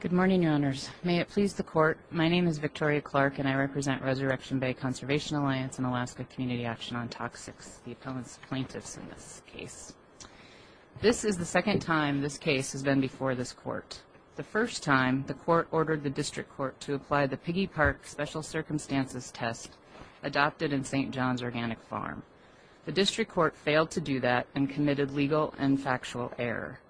Good morning, Your Honors. May it please the Court, my name is Victoria Clark and I represent Resurrection Bay Conservation Alliance and Alaska Community Action on Toxics, the appellant's plaintiffs in this case. This is the second time this case has been before this Court. The first time, the Court ordered the District Court to apply the Piggy Park Special Circumstances test adopted in St. John's Organic Farm. The District Court failed to do that and committed legal and factual error.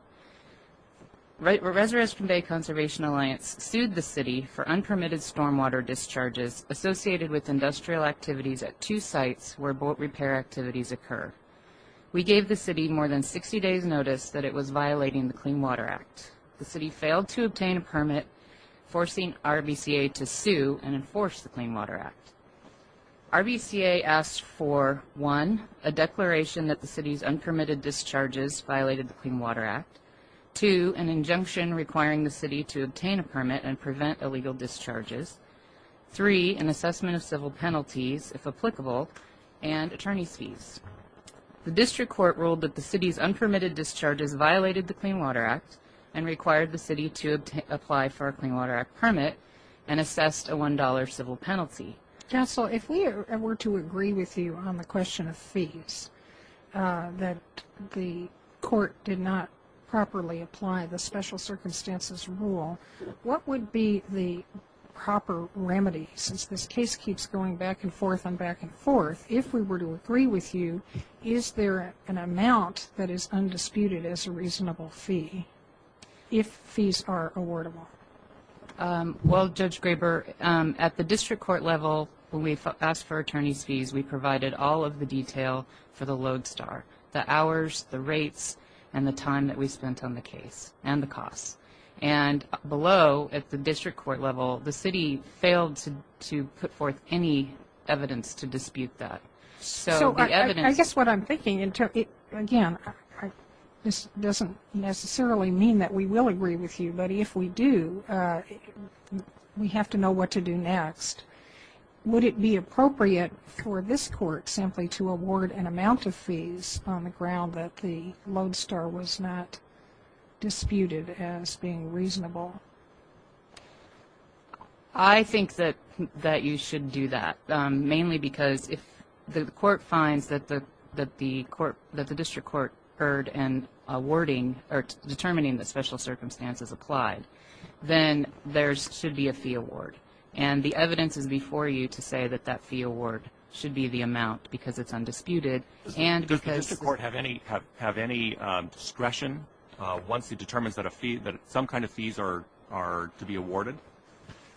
Resurrection Bay Conservation Alliance sued the City for unpermitted stormwater discharges associated with industrial activities at two sites where boat repair activities occur. We gave the City more than 60 days notice that it was violating the Clean Water Act. The City failed to obtain a permit, forcing RBCA to sue and enforce the Clean Water Act. RBCA asked for 1. A declaration that the City's unpermitted discharges violated the Clean Water Act. 2. An injunction requiring the City to obtain a permit and prevent illegal discharges. 3. An assessment of civil penalties, if applicable, and attorney's fees. The District Court ruled that the City's unpermitted discharges violated the Clean Water Act and required the City to apply for a Clean Water Act permit and assessed a $1.00 civil penalty. Counsel, if we were to agree with you on the question of fees, that the Court did not properly apply the Special Circumstances Rule, what would be the proper remedy? Since this case keeps going back and forth and back and forth, if we were to agree with you, is there an amount that is undisputed as a reasonable fee, if fees are awardable? Well, Judge Graber, at the District Court level, when we asked for attorney's fees, we provided all of the detail for the Lodestar, the hours, the rates, and the time that we spent on the case, and the costs. And below, at the District Court level, the City failed to put forth any evidence to dispute that. So I guess what I'm thinking, again, this doesn't necessarily mean that we will agree with you, but if we do, we have to know what to do next. Would it be appropriate for this Court simply to award an amount of fees on the ground that the Lodestar was not disputed as being reasonable? I think that you should do that, mainly because if the Court finds that the District Court heard in awarding or determining the Special Circumstances applied, then there should be a fee award. And the evidence is before you to say that that fee award should be the amount, because it's undisputed, and because Does the District Court have any discretion once it determines that some kind of fees are to be awarded?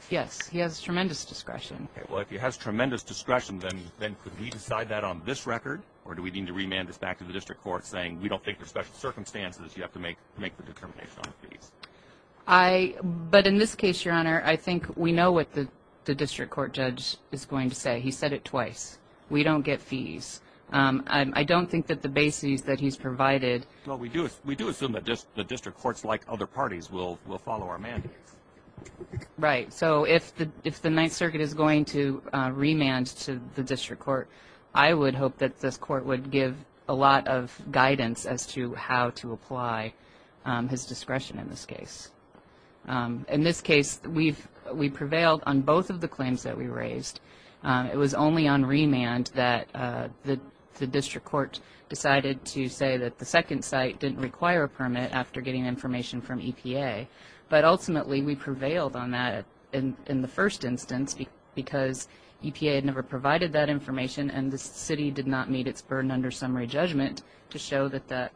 Yes, he has tremendous discretion. Okay, well, if he has tremendous discretion, then could we decide that on this record, or do we need to remand this back to the District Court saying, we don't think there's Special Circumstances, you have to make the determination on fees? But in this case, Your Honor, I think we know what the District Court judge is going to say. He said it twice. We don't get fees. I don't think that the bases that he's provided Well, we do assume that the District Courts, like other parties, will follow our mandates. Right, so if the Ninth Circuit is going to remand to the District Court, I would hope that this Court would give a lot of guidance as to how to apply his discretion in this case. In this case, we prevailed on both of the claims that we raised. It was only on remand that the District Court decided to say that the second site didn't require a permit after getting information from EPA. But ultimately, we prevailed on that in the first instance because EPA had never provided that information, and the City did not meet its burden under summary judgment to show that,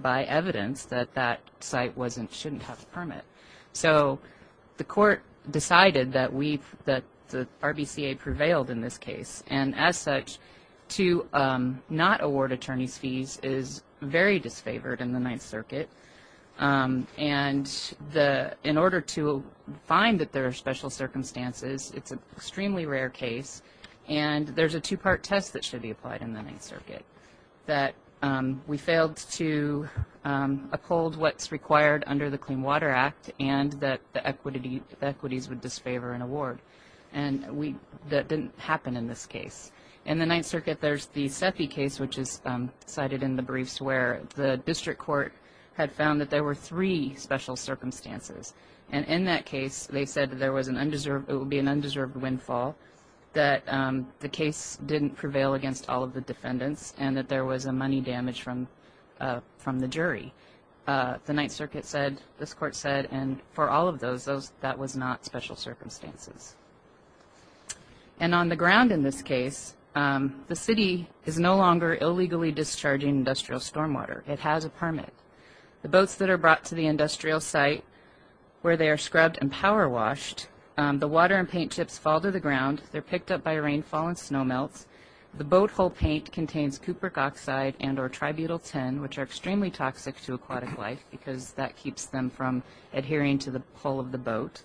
by evidence, that that site shouldn't have a permit. So the Court decided that the RBCA prevailed in this case, and as such, to not award attorneys' fees is very disfavored in the Ninth Circuit. And in order to find that there are special circumstances, it's an extremely rare case, and there's a two-part test that should be applied in the Ninth Circuit, that we failed to uphold what's required under the Clean Water Act and that the equities would disfavor an award. And that didn't happen in this case. In the Ninth Circuit, there's the CEPI case, which is cited in the briefs, where the District Court had found that there were three special circumstances. And in that case, they said that it would be an undeserved windfall, that the case didn't prevail against all of the defendants, and that there was a money damage from the jury. The Ninth Circuit said, this Court said, and for all of those, that was not special circumstances. And on the ground in this case, the City is no longer illegally discharging industrial stormwater. It has a permit. The boats that are brought to the industrial site, where they are scrubbed and power washed, the water and paint chips fall to the ground, they're picked up by rainfall and snow melts, the boat hull paint contains cupric oxide and or tributyltin, which are extremely toxic to aquatic life because that keeps them from adhering to the hull of the boat.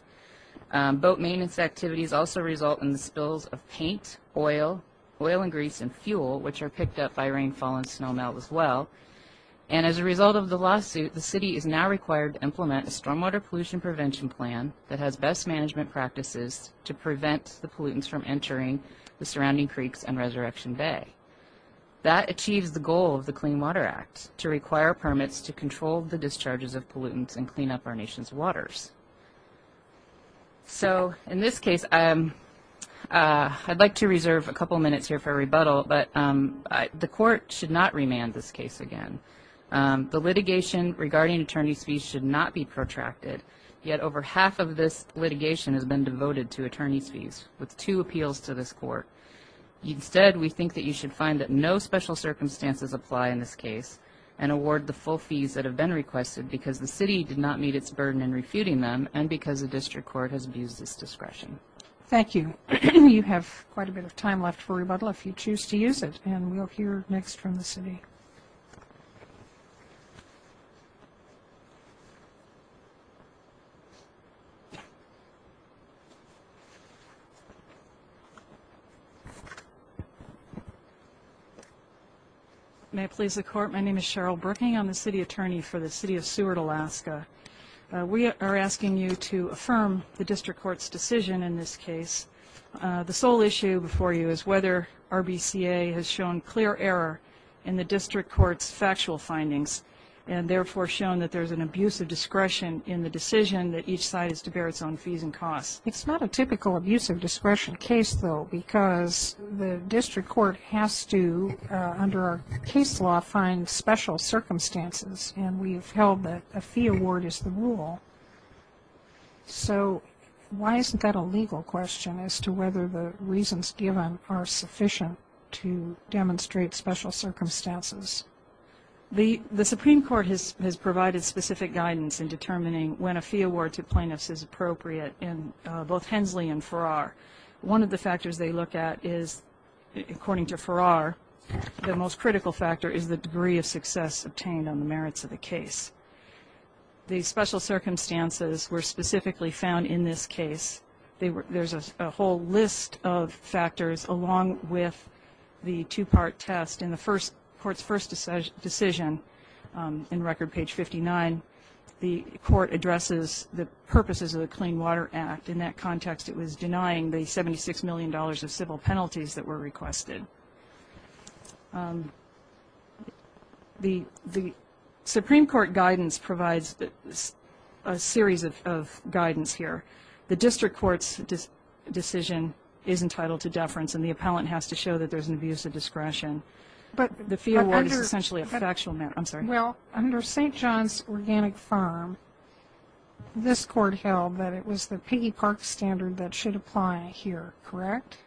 Boat maintenance activities also result in the spills of paint, oil, oil and grease and fuel, which are picked up by rainfall and snow melt as well. And as a result of the lawsuit, the City is now required to implement a stormwater pollution prevention plan that has best management practices to prevent the pollutants from entering the surrounding creeks and Resurrection Bay. That achieves the goal of the Clean Water Act, to require permits to control the discharges of pollutants and clean up our nation's waters. So in this case, I'd like to reserve a couple minutes here for rebuttal, but the court should not remand this case again. The litigation regarding attorney's fees should not be protracted, yet over half of this litigation has been devoted to attorney's fees with two appeals to this court. Instead, we think that you should find that no special circumstances apply in this case and award the full fees that have been requested because the City did not meet its burden in refuting them and because the District Court has abused its discretion. Thank you. You have quite a bit of time left for rebuttal if you choose to use it, and we'll hear next from the City. May it please the Court, my name is Cheryl Brooking. I'm the City Attorney for the City of Seward, Alaska. We are asking you to affirm the District Court's decision in this case. The sole issue before you is whether RBCA has shown clear error in the District Court's factual findings and therefore shown that there's an abuse of discretion in the decision that each side is to bear its own fees and costs. It's not a typical abuse of discretion case, though, because the District Court has to, under our case law, find special circumstances, and we have held that a fee award is the rule. So why isn't that a legal question as to whether the reasons given are sufficient to demonstrate special circumstances? The Supreme Court has provided specific guidance in determining when a fee award to plaintiffs is appropriate in both Hensley and Farrar. One of the factors they look at is, according to Farrar, the most critical factor is the degree of success obtained on the merits of the case. The special circumstances were specifically found in this case. There's a whole list of factors, along with the two-part test. In the Court's first decision, in record page 59, the Court addresses the purposes of the Clean Water Act. In that context, it was denying the $76 million of civil penalties that were requested. The Supreme Court guidance provides a series of guidance here. The District Court's decision is entitled to deference, and the appellant has to show that there's an abuse of discretion. But the fee award is essentially a factual matter. I'm sorry. Well, under St. John's Organic Farm, this Court held that it was the Piggy Park standard that should apply here, correct?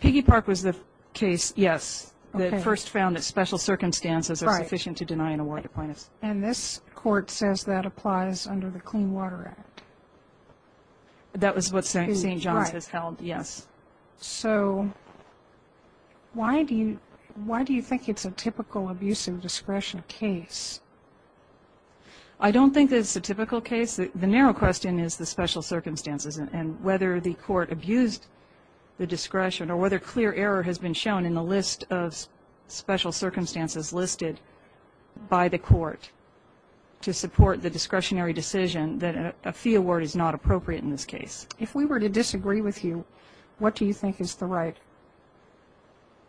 Piggy Park was the case, yes, that first found that special circumstances are sufficient to deny an award to plaintiffs. And this Court says that applies under the Clean Water Act? That was what St. John's has held, yes. So why do you think it's a typical abuse of discretion case? I don't think it's a typical case. The narrow question is the special circumstances and whether the Court abused the discretion or whether clear error has been shown in the list of special circumstances listed by the Court to support the discretionary decision that a fee award is not appropriate in this case. If we were to disagree with you, what do you think is the right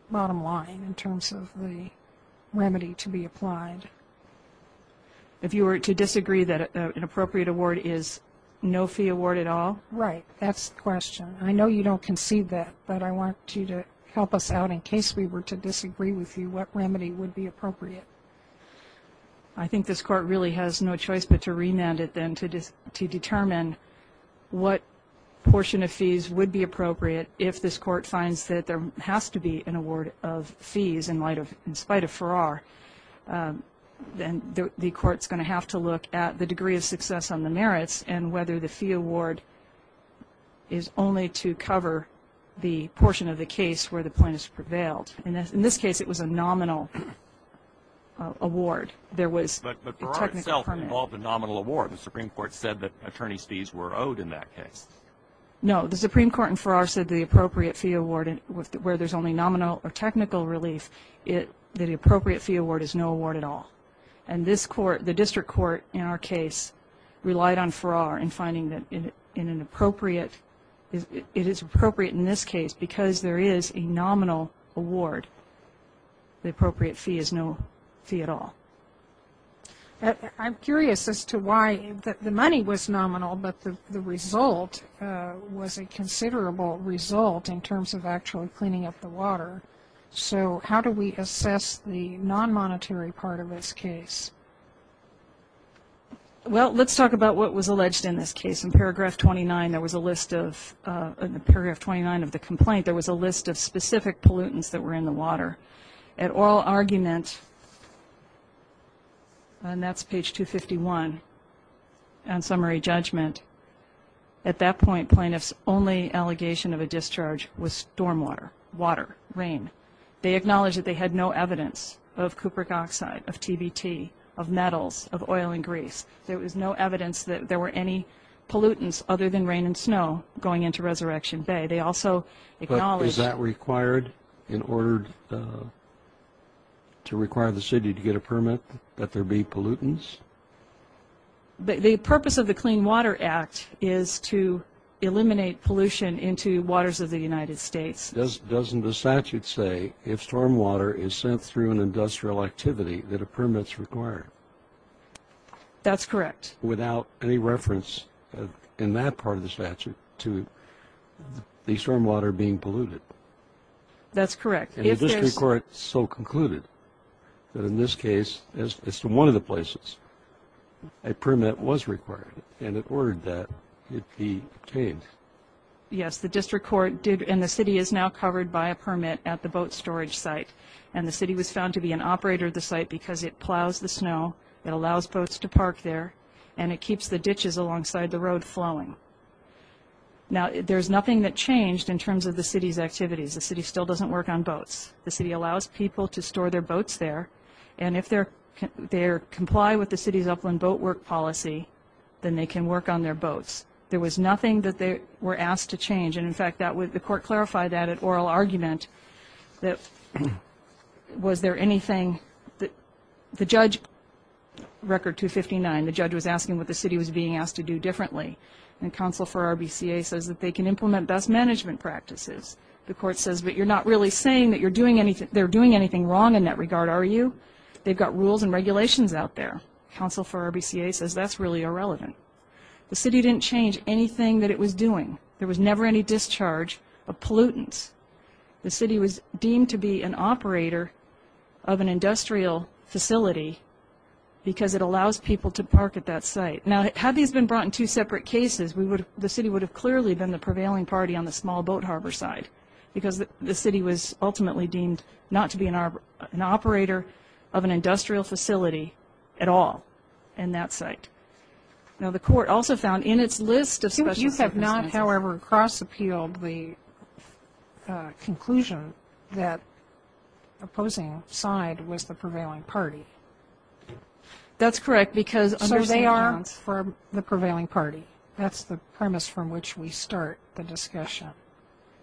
bottom line in terms of the remedy to be applied? If you were to disagree that an appropriate award is no fee award at all? Right. That's the question. I know you don't concede that, but I want you to help us out. In case we were to disagree with you, what remedy would be appropriate? I think this Court really has no choice but to remand it then to determine what portion of fees would be appropriate if this Court finds that there has to be an award of fees in spite of Farrar. Then the Court's going to have to look at the degree of success on the merits and whether the fee award is only to cover the portion of the case where the plaintiff prevailed. In this case, it was a nominal award. But Farrar itself involved a nominal award. The Supreme Court said that attorney's fees were owed in that case. No. The Supreme Court in Farrar said the appropriate fee award where there's only nominal or technical relief, that the appropriate fee award is no award at all. And this Court, the district court in our case, relied on Farrar in finding that it is appropriate in this case because there is a nominal award. The appropriate fee is no fee at all. I'm curious as to why the money was nominal, but the result was a considerable result in terms of actually cleaning up the water. So how do we assess the non-monetary part of this case? Well, let's talk about what was alleged in this case. In paragraph 29 of the complaint, there was a list of specific pollutants that were in the water. At oral argument, and that's page 251 on summary judgment, at that point plaintiff's only allegation of a discharge was storm water, water, rain. They acknowledged that they had no evidence of cupric oxide, of TBT, of metals, of oil and grease. There was no evidence that there were any pollutants other than rain and snow going into Resurrection Bay. They also acknowledged that. But is that required in order to require the city to get a permit that there be pollutants? The purpose of the Clean Water Act is to eliminate pollution into waters of the United States. Doesn't the statute say if storm water is sent through an industrial activity that a permit is required? That's correct. Without any reference in that part of the statute to the storm water being polluted? That's correct. And the district court so concluded that in this case, as to one of the places, a permit was required, and it ordered that it be obtained. Yes, the district court did, and the city is now covered by a permit at the boat storage site, and the city was found to be an operator of the site because it plows the snow, it allows boats to park there, and it keeps the ditches alongside the road flowing. Now, there's nothing that changed in terms of the city's activities. The city still doesn't work on boats. The city allows people to store their boats there, and if they comply with the city's upland boat work policy, then they can work on their boats. There was nothing that they were asked to change, and, in fact, the court clarified that at oral argument that was there anything that the judge, Record 259, the judge was asking what the city was being asked to do differently, and counsel for RBCA says that they can implement best management practices. The court says, but you're not really saying that they're doing anything wrong in that regard, are you? They've got rules and regulations out there. Counsel for RBCA says that's really irrelevant. The city didn't change anything that it was doing. There was never any discharge of pollutants. The city was deemed to be an operator of an industrial facility because it allows people to park at that site. Now, had these been brought in two separate cases, the city would have clearly been the prevailing party on the small boat harbor side because the city was ultimately deemed not to be an operator of an industrial facility at all in that site. Now, the court also found in its list of special circumstances... You have not, however, cross-appealed the conclusion that opposing side was the prevailing party. That's correct because... That's for the prevailing party. That's the premise from which we start the discussion.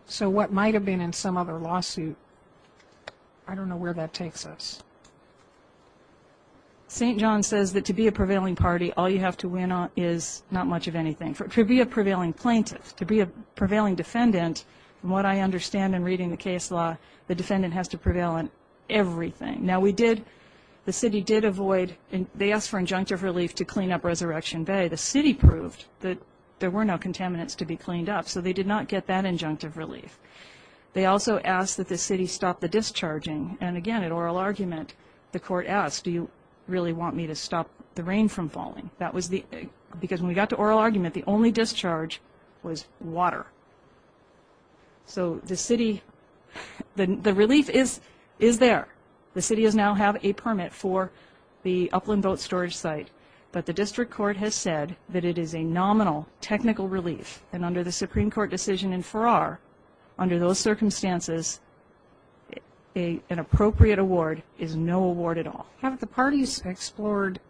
So what might have been in some other lawsuit, I don't know where that takes us. St. John says that to be a prevailing party, all you have to win is not much of anything. To be a prevailing plaintiff, to be a prevailing defendant, from what I understand in reading the case law, the defendant has to prevail in everything. Now, the city did avoid... They asked for injunctive relief to clean up Resurrection Bay. The city proved that there were no contaminants to be cleaned up, so they did not get that injunctive relief. They also asked that the city stop the discharging. And again, in oral argument, the court asked, do you really want me to stop the rain from falling? Because when we got to oral argument, the only discharge was water. So the city... The relief is there. The city now has a permit for the Upland Boat Storage site, but the district court has said that it is a nominal technical relief, and under the Supreme Court decision in Farrar, under those circumstances, an appropriate award is no award at all. Have the parties explored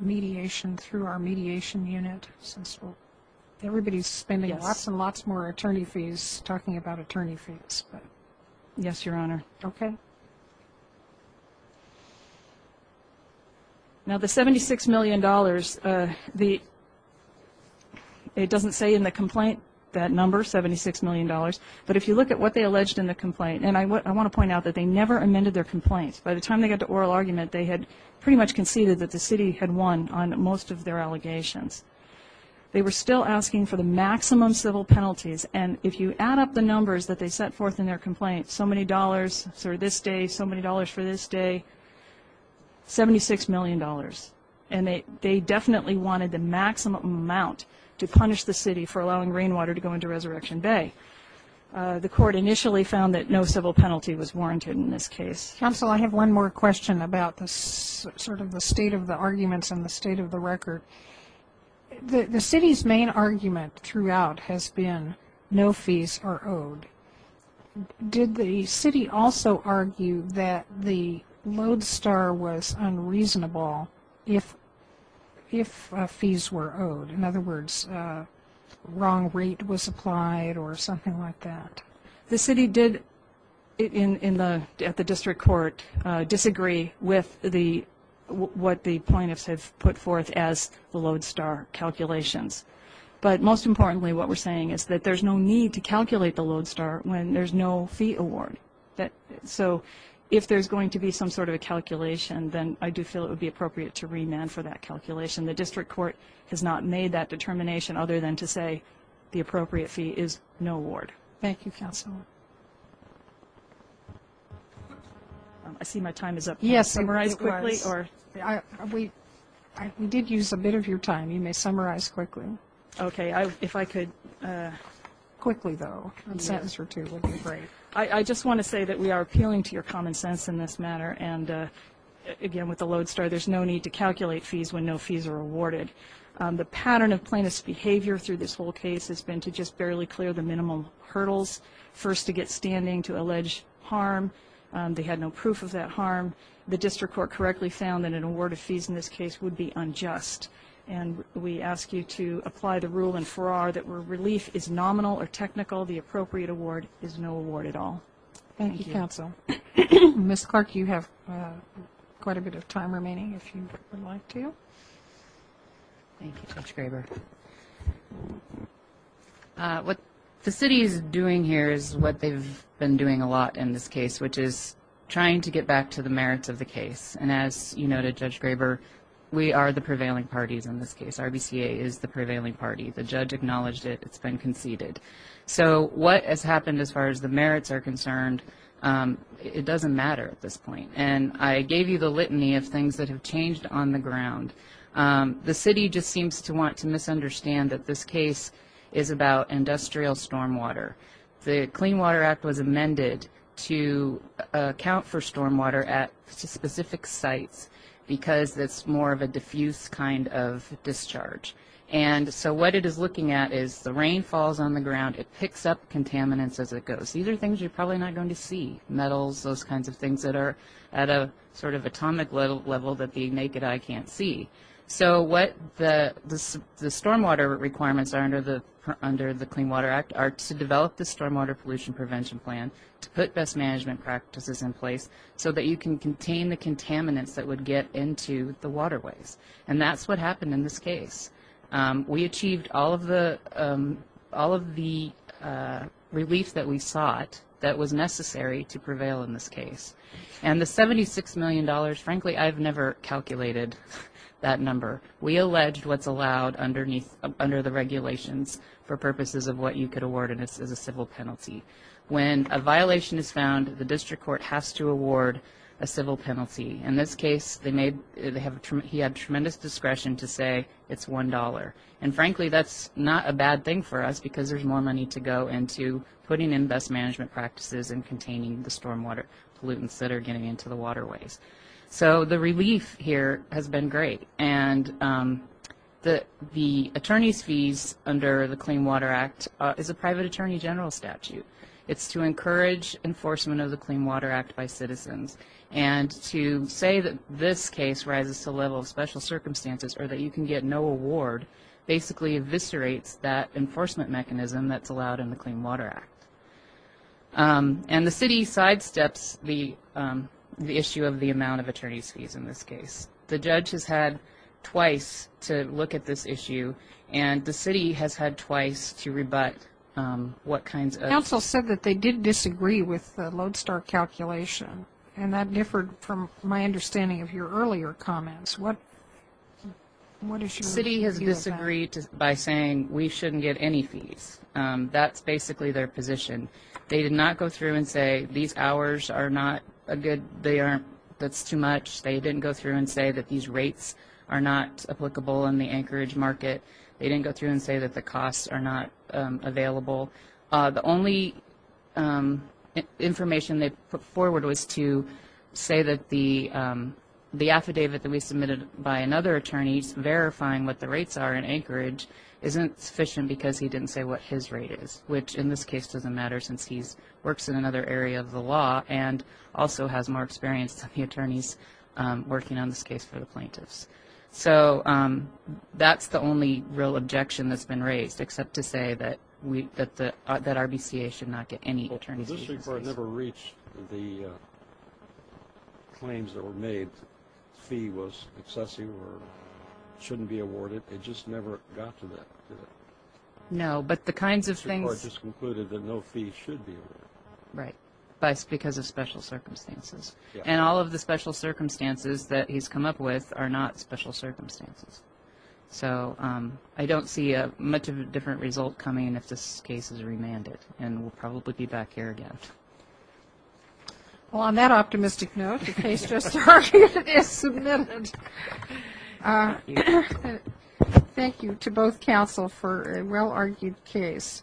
mediation through our mediation unit? Everybody is spending lots and lots more attorney fees talking about attorney fees. Yes, Your Honor. Okay. Now, the $76 million, the... It doesn't say in the complaint that number, $76 million, but if you look at what they alleged in the complaint, and I want to point out that they never amended their complaint. By the time they got to oral argument, they had pretty much conceded that the city had won on most of their allegations. They were still asking for the maximum civil penalties, and if you add up the numbers that they set forth in their complaint, so many dollars for this day, so many dollars for this day, $76 million, and they definitely wanted the maximum amount to punish the city for allowing rainwater to go into Resurrection Bay. The court initially found that no civil penalty was warranted in this case. Counsel, I have one more question about sort of the state of the arguments and the state of the record. The city's main argument throughout has been no fees are owed. Did the city also argue that the Lodestar was unreasonable if fees were owed? In other words, wrong rate was applied or something like that? The city did, at the district court, disagree with what the plaintiffs have put forth as the Lodestar calculations. But most importantly, what we're saying is that there's no need to calculate the Lodestar when there's no fee award. So if there's going to be some sort of a calculation, then I do feel it would be appropriate to remand for that calculation. The district court has not made that determination other than to say the appropriate fee is no award. Thank you, Counsel. I see my time is up. Can you summarize quickly? We did use a bit of your time. You may summarize quickly. Okay. If I could quickly, though, a sentence or two would be great. I just want to say that we are appealing to your common sense in this matter. And, again, with the Lodestar, there's no need to calculate fees when no fees are awarded. The pattern of plaintiff's behavior through this whole case has been to just barely clear the minimum hurdles, first to get standing to allege harm. They had no proof of that harm. The district court correctly found that an award of fees in this case would be unjust. And we ask you to apply the rule in Farrar that where relief is nominal or technical, the appropriate award is no award at all. Thank you, Counsel. Ms. Clark, you have quite a bit of time remaining if you would like to. Thank you, Judge Graber. What the city is doing here is what they've been doing a lot in this case, which is trying to get back to the merits of the case. And as you noted, Judge Graber, we are the prevailing parties in this case. RBCA is the prevailing party. The judge acknowledged it. It's been conceded. So what has happened as far as the merits are concerned, it doesn't matter at this point. And I gave you the litany of things that have changed on the ground. The city just seems to want to misunderstand that this case is about industrial stormwater. The Clean Water Act was amended to account for stormwater at specific sites because it's more of a diffuse kind of discharge. And so what it is looking at is the rain falls on the ground. It picks up contaminants as it goes. These are things you're probably not going to see, metals, those kinds of things that are at a sort of atomic level that the naked eye can't see. So what the stormwater requirements are under the Clean Water Act are to develop the stormwater pollution prevention plan, to put best management practices in place so that you can contain the contaminants that would get into the waterways. And that's what happened in this case. We achieved all of the relief that we sought that was necessary to prevail in this case. And the $76 million, frankly, I've never calculated that number. We allege what's allowed under the regulations for purposes of what you could award as a civil penalty. When a violation is found, the district court has to award a civil penalty. In this case, he had tremendous discretion to say it's $1. And frankly, that's not a bad thing for us because there's more money to go into putting in best management practices and containing the stormwater pollutants that are getting into the waterways. So the relief here has been great. And the attorney's fees under the Clean Water Act is a private attorney general statute. It's to encourage enforcement of the Clean Water Act by citizens. And to say that this case rises to the level of special circumstances or that you can get no award basically eviscerates that enforcement mechanism that's allowed in the Clean Water Act. And the city sidesteps the issue of the amount of attorney's fees in this case. The judge has had twice to look at this issue, and the city has had twice to rebut what kinds of- Counsel said that they did disagree with the Lodestar calculation, and that differed from my understanding of your earlier comments. City has disagreed by saying we shouldn't get any fees. That's basically their position. They did not go through and say these hours are not a good-that's too much. They didn't go through and say that these rates are not applicable in the Anchorage market. They didn't go through and say that the costs are not available. The only information they put forward was to say that the affidavit that we submitted by another attorney verifying what the rates are in Anchorage isn't sufficient because he didn't say what his rate is, which in this case doesn't matter since he works in another area of the law and also has more experience than the attorneys working on this case for the plaintiffs. So that's the only real objection that's been raised, except to say that RBCA should not get any attorneys. The district court never reached the claims that were made, fee was excessive or shouldn't be awarded. It just never got to that. No, but the kinds of things- The district court just concluded that no fee should be awarded. Right, because of special circumstances. And all of the special circumstances that he's come up with are not special circumstances. So I don't see much of a different result coming if this case is remanded and we'll probably be back here again. Well, on that optimistic note, the case just argued is submitted. Thank you to both counsel for a well-argued case.